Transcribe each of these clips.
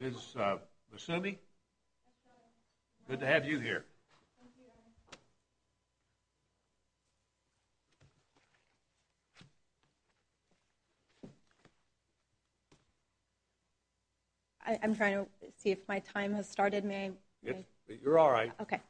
Ms. Massoumi, good to have you here. I'm trying to see if my time has started. You're all right. Okay.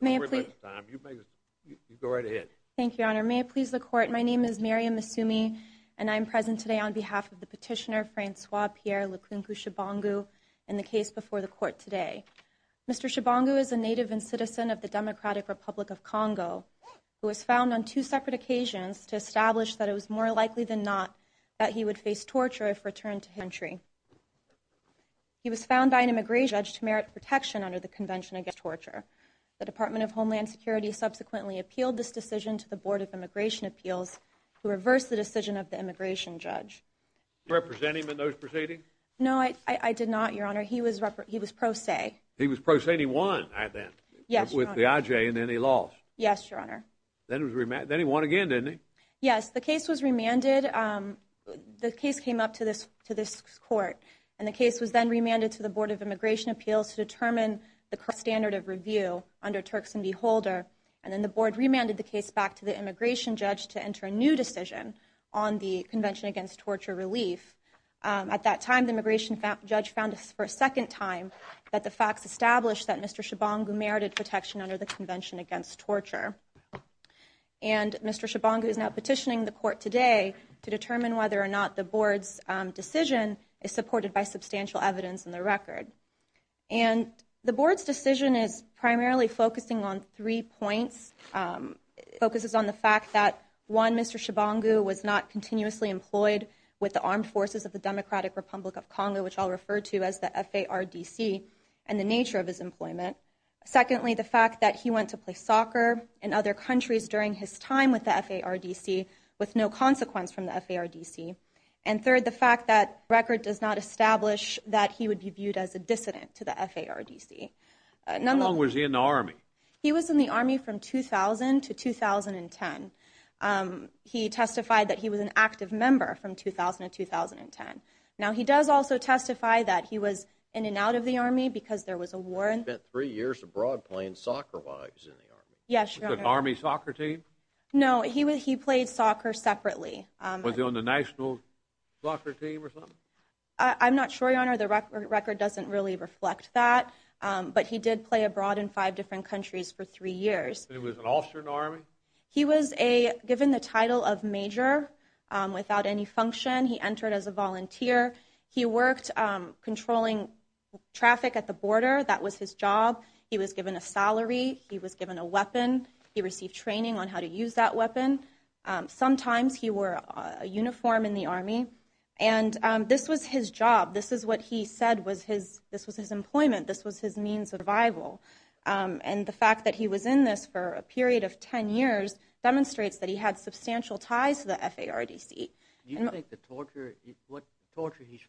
May I please go right ahead. Thank you, Your Honor. May it please the court. My name is Miriam Massoumi. And I'm present today on behalf of the petitioner Francois Pierre Lukunku-Tshibangu. In the case before the court today, Mr. Tshibangu is a native and citizen of the Democratic Republic of Congo, who was found on two separate occasions to establish that it was more likely than not that he would face torture if returned to his country. He was found by an immigration judge to merit protection under the Convention Against Torture. The Department of Homeland Security subsequently appealed this decision to the Board of Immigration Appeals, who reversed the decision of the immigration judge. Do you represent him in those proceedings? No, I did not, Your Honor. He was pro se. He was pro se, and he won with the IJ, and then he lost. Yes, Your Honor. Then he won again, didn't he? Yes, the case was remanded. The case came up to this court, and the case was then remanded to the Board of Immigration Appeals to determine the standard of review under Turks and Beholder. And then the board remanded the case back to the immigration judge to enter a new decision on the Convention Against Torture relief. At that time, the immigration judge found for a second time that the facts established that Mr. Chabangu merited protection under the Convention Against Torture. And Mr. Chabangu is now petitioning the court today to determine whether or not the board's decision is supported by substantial evidence in the record. And the board's decision is primarily focusing on three points. It focuses on the fact that, one, Mr. Chabangu was not continuously employed with the armed forces of the Democratic Republic of Congo, which I'll refer to as the FARDC, and the nature of his employment. Secondly, the fact that he went to play soccer in other countries during his time with the FARDC with no consequence from the FARDC. And third, the fact that record does not establish that he would be viewed as a dissident to the FARDC. He was in the Army from 2000 to 2010. He testified that he was an active member from 2000 to 2010. Now, he does also testify that he was in and out of the Army because there was a war. He spent three years abroad playing soccer while he was in the Army. Yes, Your Honor. Was it an Army soccer team? No, he played soccer separately. I'm not sure, Your Honor. The record doesn't really reflect that. But he did play abroad in five different countries for three years. It was an officer in the Army? He was given the title of Major without any function. He entered as a volunteer. He worked controlling traffic at the border. That was his job. He was given a salary. He was given a weapon. He received training on how to use that weapon. Sometimes he wore a uniform in the Army. And this was his job. This is what he said was his this was his employment. This was his means of survival. And the fact that he was in this for a period of 10 years demonstrates that he had substantial ties to the F.A.R.D.C. Do you think the torture he's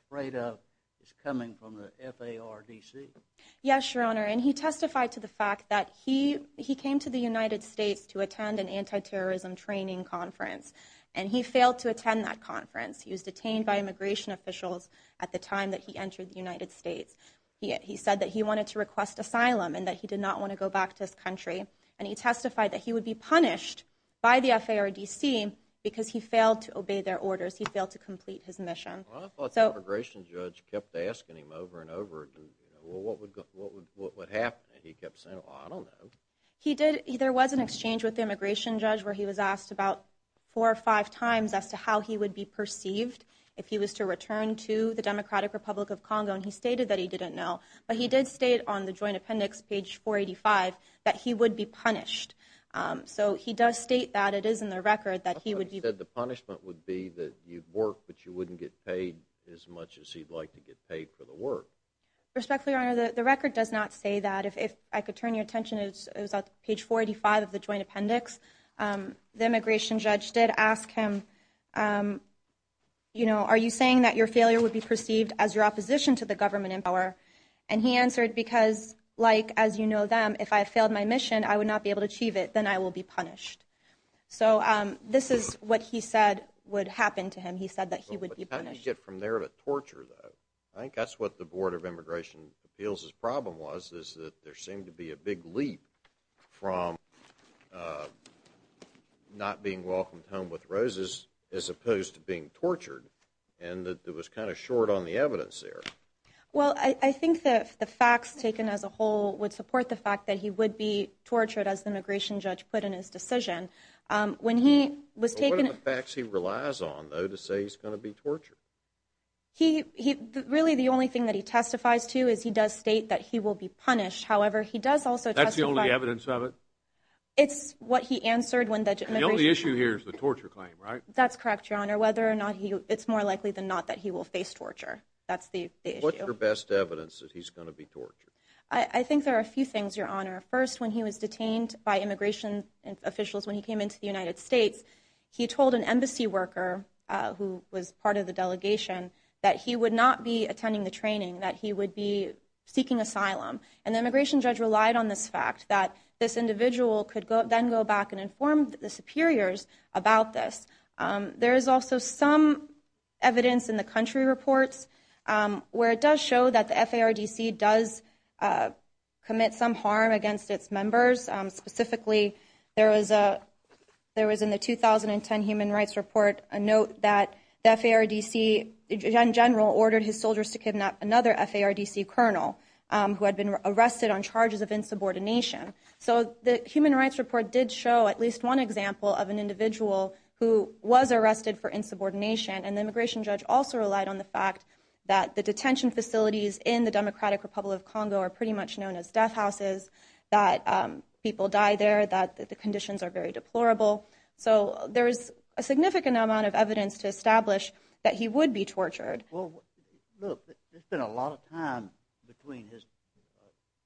afraid of is coming from the F.A.R.D.C.? Yes, Your Honor. And he testified to the fact that he he came to the United States to attend an anti-terrorism training conference and he failed to attend that conference. He was detained by immigration officials at the time that he entered the United States. He said that he wanted to request asylum and that he did not want to go back to his country. And he testified that he would be punished by the F.A.R.D.C. because he failed to obey their orders. He failed to complete his mission. I thought the immigration judge kept asking him over and over again, well, what would what would what would happen? He kept saying, I don't know. He did. There was an exchange with the immigration judge where he was asked about four or five times as to how he would be perceived if he was to return to the Democratic Republic of Congo. And he stated that he didn't know. But he did state on the joint appendix, page four eighty five, that he would be punished. So he does state that it is in the record that he would be said the punishment would be that you work, but you wouldn't get paid as much as he'd like to get paid for the work. Respectfully, Your Honor, the record does not say that if I could turn your attention, it was on page forty five of the joint appendix. The immigration judge did ask him, you know, are you saying that your failure would be perceived as your opposition to the government in power? And he answered, because, like, as you know, them, if I failed my mission, I would not be able to achieve it. Then I will be punished. So this is what he said would happen to him. He said that he would be punished from there to torture. I think that's what the Board of Immigration Appeals problem was, is that there seemed to be a big leap from not being welcomed home with roses as opposed to being tortured and that it was kind of short on the evidence there. Well, I think that the facts taken as a whole would support the fact that he would be tortured as the immigration judge put in his decision when he was taken. What are the facts he relies on, though, to say he's going to be tortured? He he really the only thing that he testifies to is he does state that he will be punished. However, he does also that's the only evidence of it. It's what he answered when the only issue here is the torture claim, right? That's correct, your honor, whether or not it's more likely than not that he will face torture. That's the what's your best evidence that he's going to be tortured? I think there are a few things, your honor. First, when he was detained by immigration officials, when he came into the United States, he told an embassy worker who was part of the delegation that he would not be and the immigration judge relied on this fact that this individual could then go back and inform the superiors about this. There is also some evidence in the country reports where it does show that the F.A.R. D.C. does commit some harm against its members. Specifically, there was a there was in the 2010 Human Rights Report a note that the F.A.R. D.C. general ordered his soldiers to kidnap another F.A.R. D.C. colonel who had been arrested on charges of insubordination. So the Human Rights Report did show at least one example of an individual who was arrested for insubordination. And the immigration judge also relied on the fact that the detention facilities in the Democratic Republic of Congo are pretty much known as death houses, that people die there, that the conditions are very deplorable. So there is a significant amount of evidence to establish that he would be tortured. Well, look, there's been a lot of time between his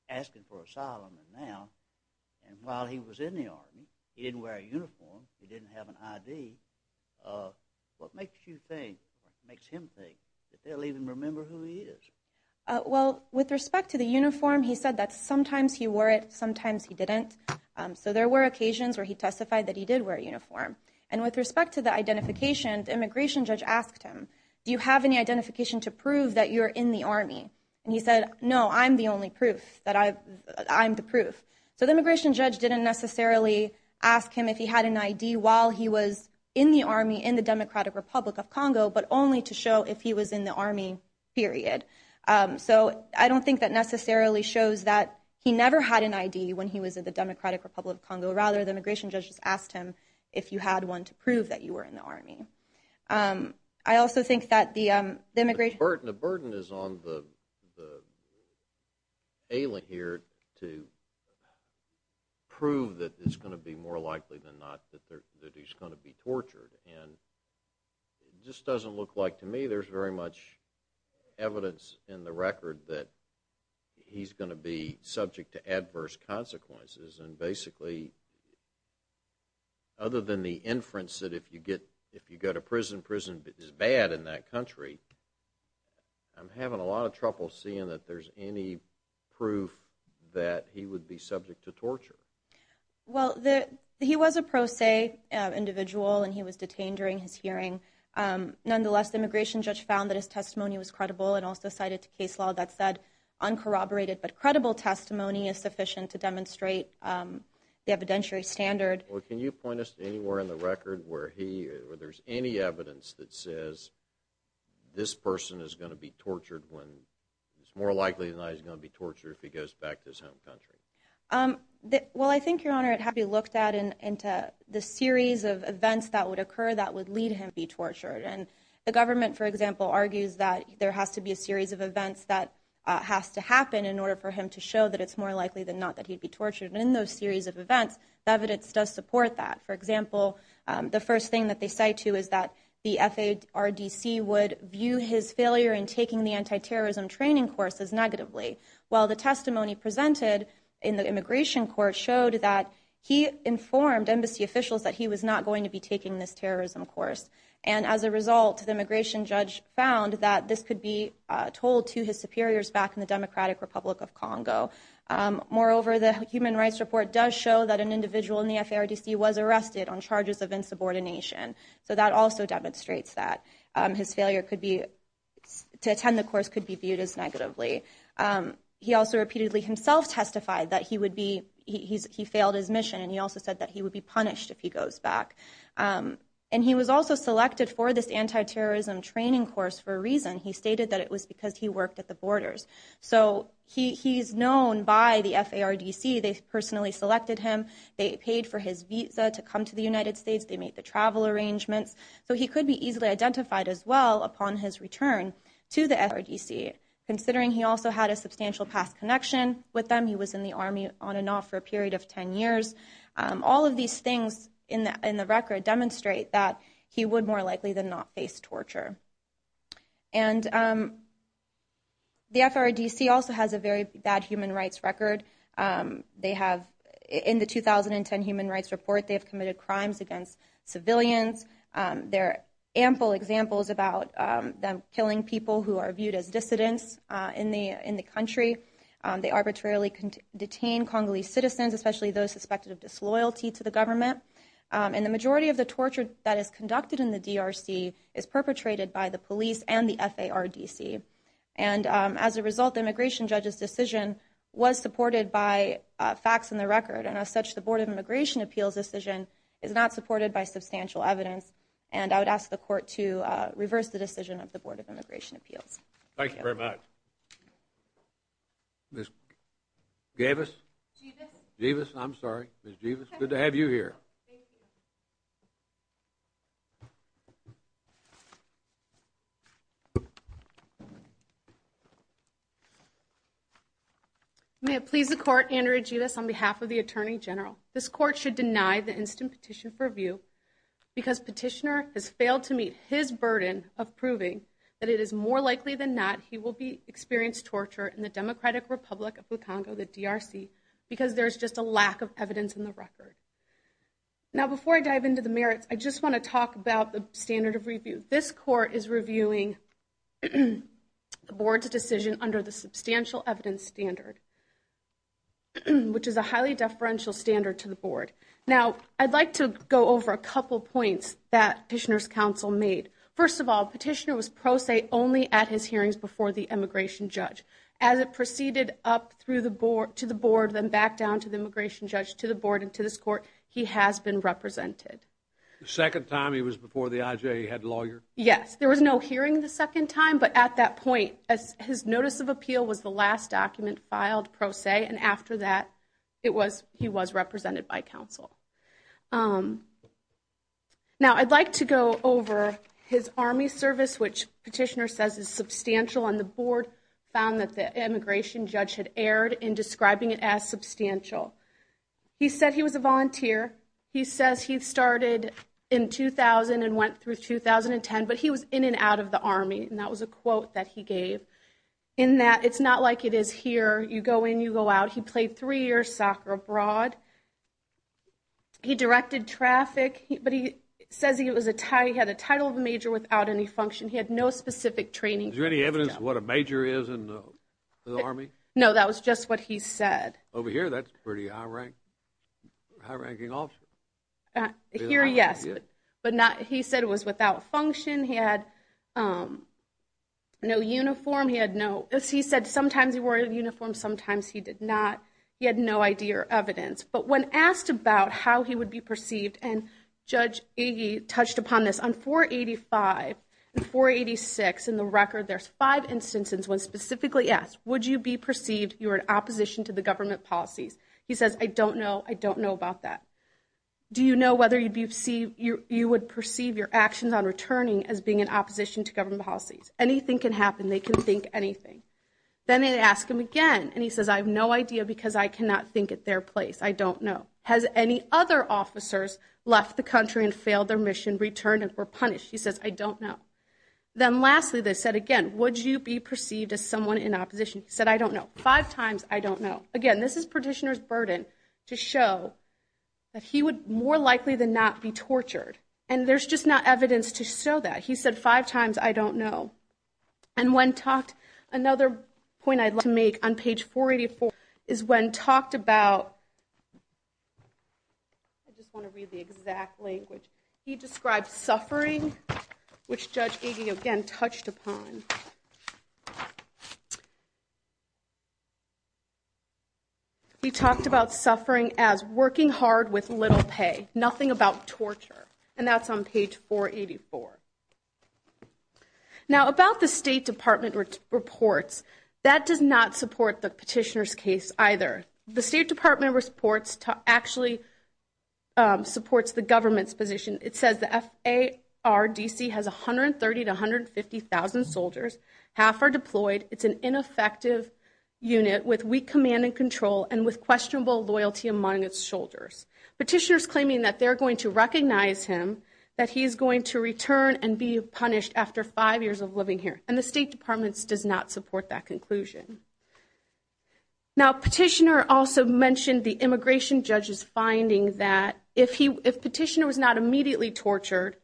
asking for asylum and now. And while he was in the army, he didn't wear a uniform. He didn't have an I.D. What makes you think, what makes him think that they'll even remember who he is? Well, with respect to the uniform, he said that sometimes he wore it, sometimes he didn't. So there were occasions where he testified that he did wear a uniform. And with respect to the identification, the immigration judge asked him, do you have any identification to prove that you're in the army? And he said, no, I'm the only proof that I'm the proof. So the immigration judge didn't necessarily ask him if he had an I.D. while he was in the army, in the Democratic Republic of Congo, but only to show if he was in the army, period. So I don't think that necessarily shows that he never had an I.D. when he was in the Democratic Republic of Congo. Rather, the immigration judge just asked him if you had one to prove that you were in the army. I also think that the immigration... The burden is on the alien here to prove that it's going to be more likely than not that he's going to be tortured. And it just doesn't look like, to me, there's very much evidence in the record that he's going to be subject to adverse consequences. And basically, other than the inference that if you get if you go to prison, prison is bad in that country. I'm having a lot of trouble seeing that there's any proof that he would be subject to torture. Well, he was a pro se individual and he was detained during his hearing. Nonetheless, the immigration judge found that his testimony was credible and also cited to case law that said uncorroborated but credible testimony is sufficient to demonstrate the evidentiary standard. Well, can you point us to anywhere in the record where there's any evidence that says this person is going to be tortured when it's more likely than not he's going to be tortured if he goes back to his home country? Well, I think, Your Honor, it had to be looked at in the series of events that would occur that would lead him to be tortured. And the government, for example, argues that there has to be a series of events that has to happen in order for him to show that it's more likely than not that he'd be tortured. And in those series of events, the evidence does support that. For example, the first thing that they say, too, is that the FDRDC would view his failure in taking the anti-terrorism training courses negatively. Well, the testimony presented in the immigration court showed that he informed embassy officials that he was not going to be taking this terrorism course. And as a result, the immigration judge found that this could be told to his superiors back in the Democratic Republic of Congo. Moreover, the human rights report does show that an individual in the FDRDC was arrested on charges of insubordination. So that also demonstrates that his failure could be to attend. The course could be viewed as negatively. He also repeatedly himself testified that he would be he's he failed his mission. And he also said that he would be punished if he goes back. And he was also selected for this anti-terrorism training course for a reason. He stated that it was because he worked at the borders. So he he's known by the FDRDC. They personally selected him. They paid for his visa to come to the United States. They made the travel arrangements. So he could be easily identified as well upon his return to the FDRDC, considering he also had a substantial past connection with them. He was in the army on and off for a period of 10 years. All of these things in the record demonstrate that he would more likely than not face torture. And the FDRDC also has a very bad human rights record. They have in the 2010 Human Rights Report, they have committed crimes against civilians. There are ample examples about them killing people who are viewed as dissidents in the in the country. They arbitrarily detain Congolese citizens, especially those suspected of disloyalty to the government. And the majority of the torture that is conducted in the DRC is perpetrated by the police and the FDRDC. And as a result, the immigration judge's decision was supported by facts in the record. And as such, the Board of Immigration Appeals decision is not supported by substantial evidence. And I would ask the court to reverse the decision of the Board of Immigration Appeals. Thank you very much. Miss Davis Davis, I'm sorry, it's good to have you here. May it please the court, Andrew Ajitas on behalf of the attorney general, this court should deny the instant petition for review because petitioner has failed to meet his burden of proving that it is more likely than not he will be experienced torture in the Democratic Republic of the Congo, the DRC, because there's just a lack of evidence in the record. Now, before I dive into the merits, I just want to talk about the standard of review. This court is reviewing the board's decision under the substantial evidence standard. Which is a highly deferential standard to the board. Now, I'd like to go over a couple of points that petitioner's counsel made. First of all, petitioner was pro se only at his hearings before the immigration judge. As it proceeded up through the board to the board, then back down to the immigration judge, to the board and to this court, he has been represented. The second time he was before the IJ, he had lawyer? Yes, there was no hearing the second time. But at that point, as his notice of appeal was the last document filed pro se. And after that, it was he was represented by counsel. Now, I'd like to go over his army service, which petitioner says is substantial on the board, found that the immigration judge had erred in describing it as substantial. He said he was a volunteer. He says he started in 2000 and went through 2010, but he was in and out of the army. And that was a quote that he gave in that. It's not like it is here. You go in, you go out. He played three years soccer abroad. He directed traffic, but he says he had a title of a major without any function. He had no specific training. Is there any evidence what a major is in the army? No, that was just what he said over here. That's pretty high rank, high ranking off here. Yes. But not he said it was without function. He had no uniform. He had no. As he said, sometimes he wore a uniform. Sometimes he did not. He had no idea or evidence. But when asked about how he would be perceived and Judge Iggy touched upon this on 485 and 486 in the record, there's five instances when specifically asked, would you be perceived you're in opposition to the government policies? He says, I don't know. I don't know about that. Do you know whether you'd be see you would perceive your actions on returning as being in opposition to government policies? Anything can happen. They can think anything. Then they ask him again. And he says, I have no idea because I cannot think at their place. I don't know. Has any other officers left the country and failed their mission, returned or punished? He says, I don't know. Then lastly, they said again, would you be perceived as someone in opposition? He said, I don't know. Five times. I don't know. Again, this is petitioner's burden to show that he would more likely than not be tortured. And there's just not evidence to show that. He said five times. I don't know. And when talked, another point I'd like to make on page 484 is when talked about. I just want to read the exact language he described suffering, which Judge Iggy again touched upon. He talked about suffering as working hard with little pay, nothing about torture, and that's on page 484. Now, about the State Department reports that does not support the petitioner's case either. The State Department reports actually supports the government's position. It says the F.A.R.D.C. has 130 to 150 thousand soldiers. Half are deployed. It's an ineffective unit with weak command and control and with questionable loyalty among its shoulders. Petitioners claiming that they're going to recognize him, that he's going to return and be punished after five years of living here. And the State Department's does not support that conclusion. Now, petitioner also mentioned the immigration judge's finding that if he if he was immediately tortured,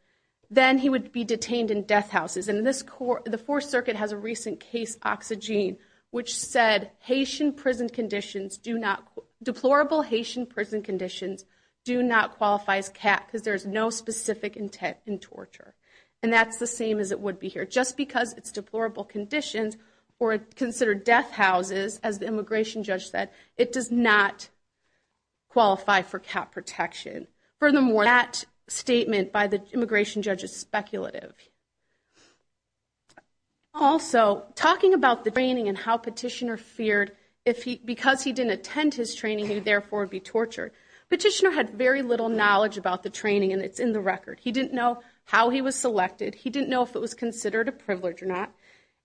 then he would be detained in death houses. And in this court, the Fourth Circuit has a recent case, Oxygene, which said Haitian prison conditions do not deplorable Haitian prison conditions do not qualify as cat because there is no specific intent in torture. And that's the same as it would be here just because it's deplorable conditions or considered death houses. As the immigration judge said, it does not qualify for cat protection. Furthermore, that statement by the immigration judge is speculative. Also, talking about the training and how petitioner feared if he because he didn't attend his training, he therefore would be tortured. Petitioner had very little knowledge about the training and it's in the record. He didn't know how he was selected. He didn't know if it was considered a privilege or not.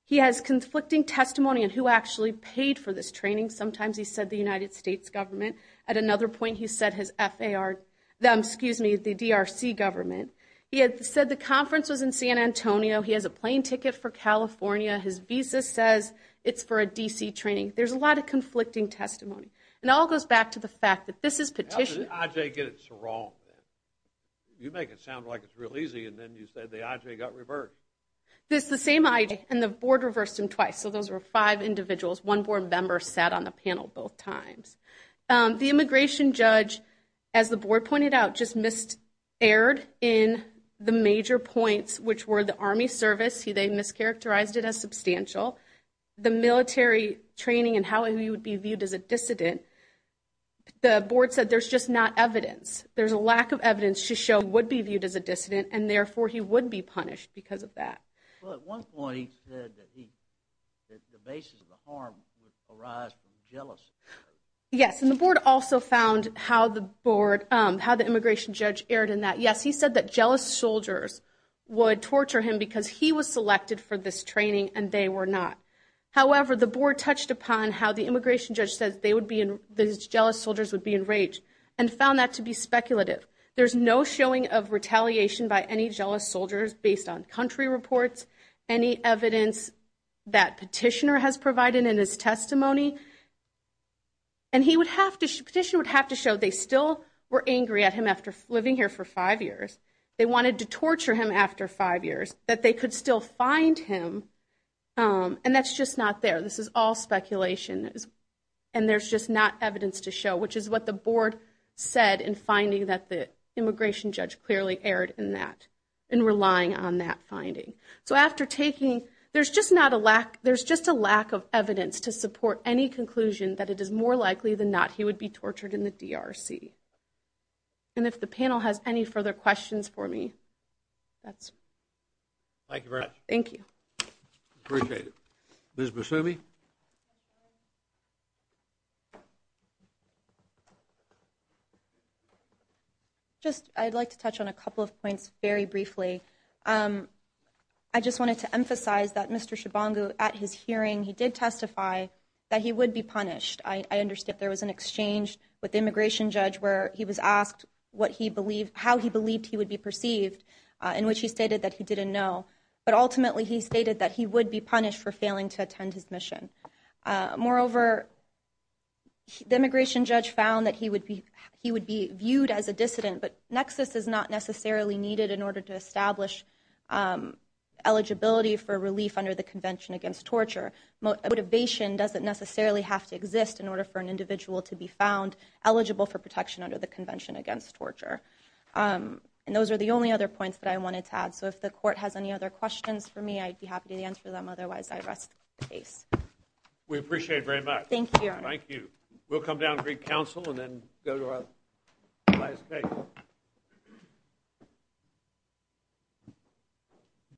He has conflicting testimony and who actually paid for this training. Sometimes he said the United States government. At another point, he said his F.A.R., excuse me, the D.R.C. government. He had said the conference was in San Antonio. He has a plane ticket for California. His visa says it's for a D.C. training. There's a lot of conflicting testimony and all goes back to the fact that this is petition. How did the I.J. get it so wrong? You make it sound like it's real easy and then you said the I.J. got reversed. It's the same I.J. and the board reversed him twice. So those were five individuals. One board member sat on the panel both times. The immigration judge, as the board pointed out, just missed aired in the major points, which were the Army service. They mischaracterized it as substantial. The military training and how he would be viewed as a dissident. The board said there's just not evidence. There's a lack of evidence to show would be viewed as a dissident and therefore he would be punished because of that. Well, at one point, he said that the basis of the harm would arise from jealousy. Yes, and the board also found how the board, how the immigration judge erred in that. Yes, he said that jealous soldiers would torture him because he was selected for this training and they were not. However, the board touched upon how the immigration judge says they would be in those jealous soldiers would be enraged and found that to be speculative. There's no showing of retaliation by any jealous soldiers based on country reports, any evidence that petitioner has provided in his testimony. And he would have to petition would have to show they still were angry at him after living here for five years, they wanted to torture him after five years, that they could still find him. And that's just not there. This is all speculation. And there's just not evidence to show, which is what the board said in finding that the immigration judge clearly erred in that and relying on that finding. So after taking, there's just not a lack. There's just a lack of evidence to support any conclusion that it is more likely than not, he would be tortured in the DRC. And if the panel has any further questions for me, that's. Thank you very much. Thank you. Appreciate it. Ms. Busumi. Just I'd like to touch on a couple of points very briefly. I just wanted to emphasize that Mr. Shibango at his hearing, he did testify that he would be punished. I understand there was an exchange with the immigration judge where he was asked what he believed, how he believed he would be perceived in which he stated that he didn't know. But ultimately, he stated that he would be punished for failing to attend his mission. Moreover. The immigration judge found that he would be he would be viewed as a dissident, but nexus is not necessarily needed in order to establish eligibility for relief under the Convention against Torture. Motivation doesn't necessarily have to exist in order for an individual to be found eligible for protection under the Convention against Torture. And those are the only other points that I wanted to add. So if the court has any other questions for me, I'd be happy to answer them. Otherwise, I rest the case. We appreciate it very much. Thank you. Thank you. We'll come down to council and then go to our last case. Thank you.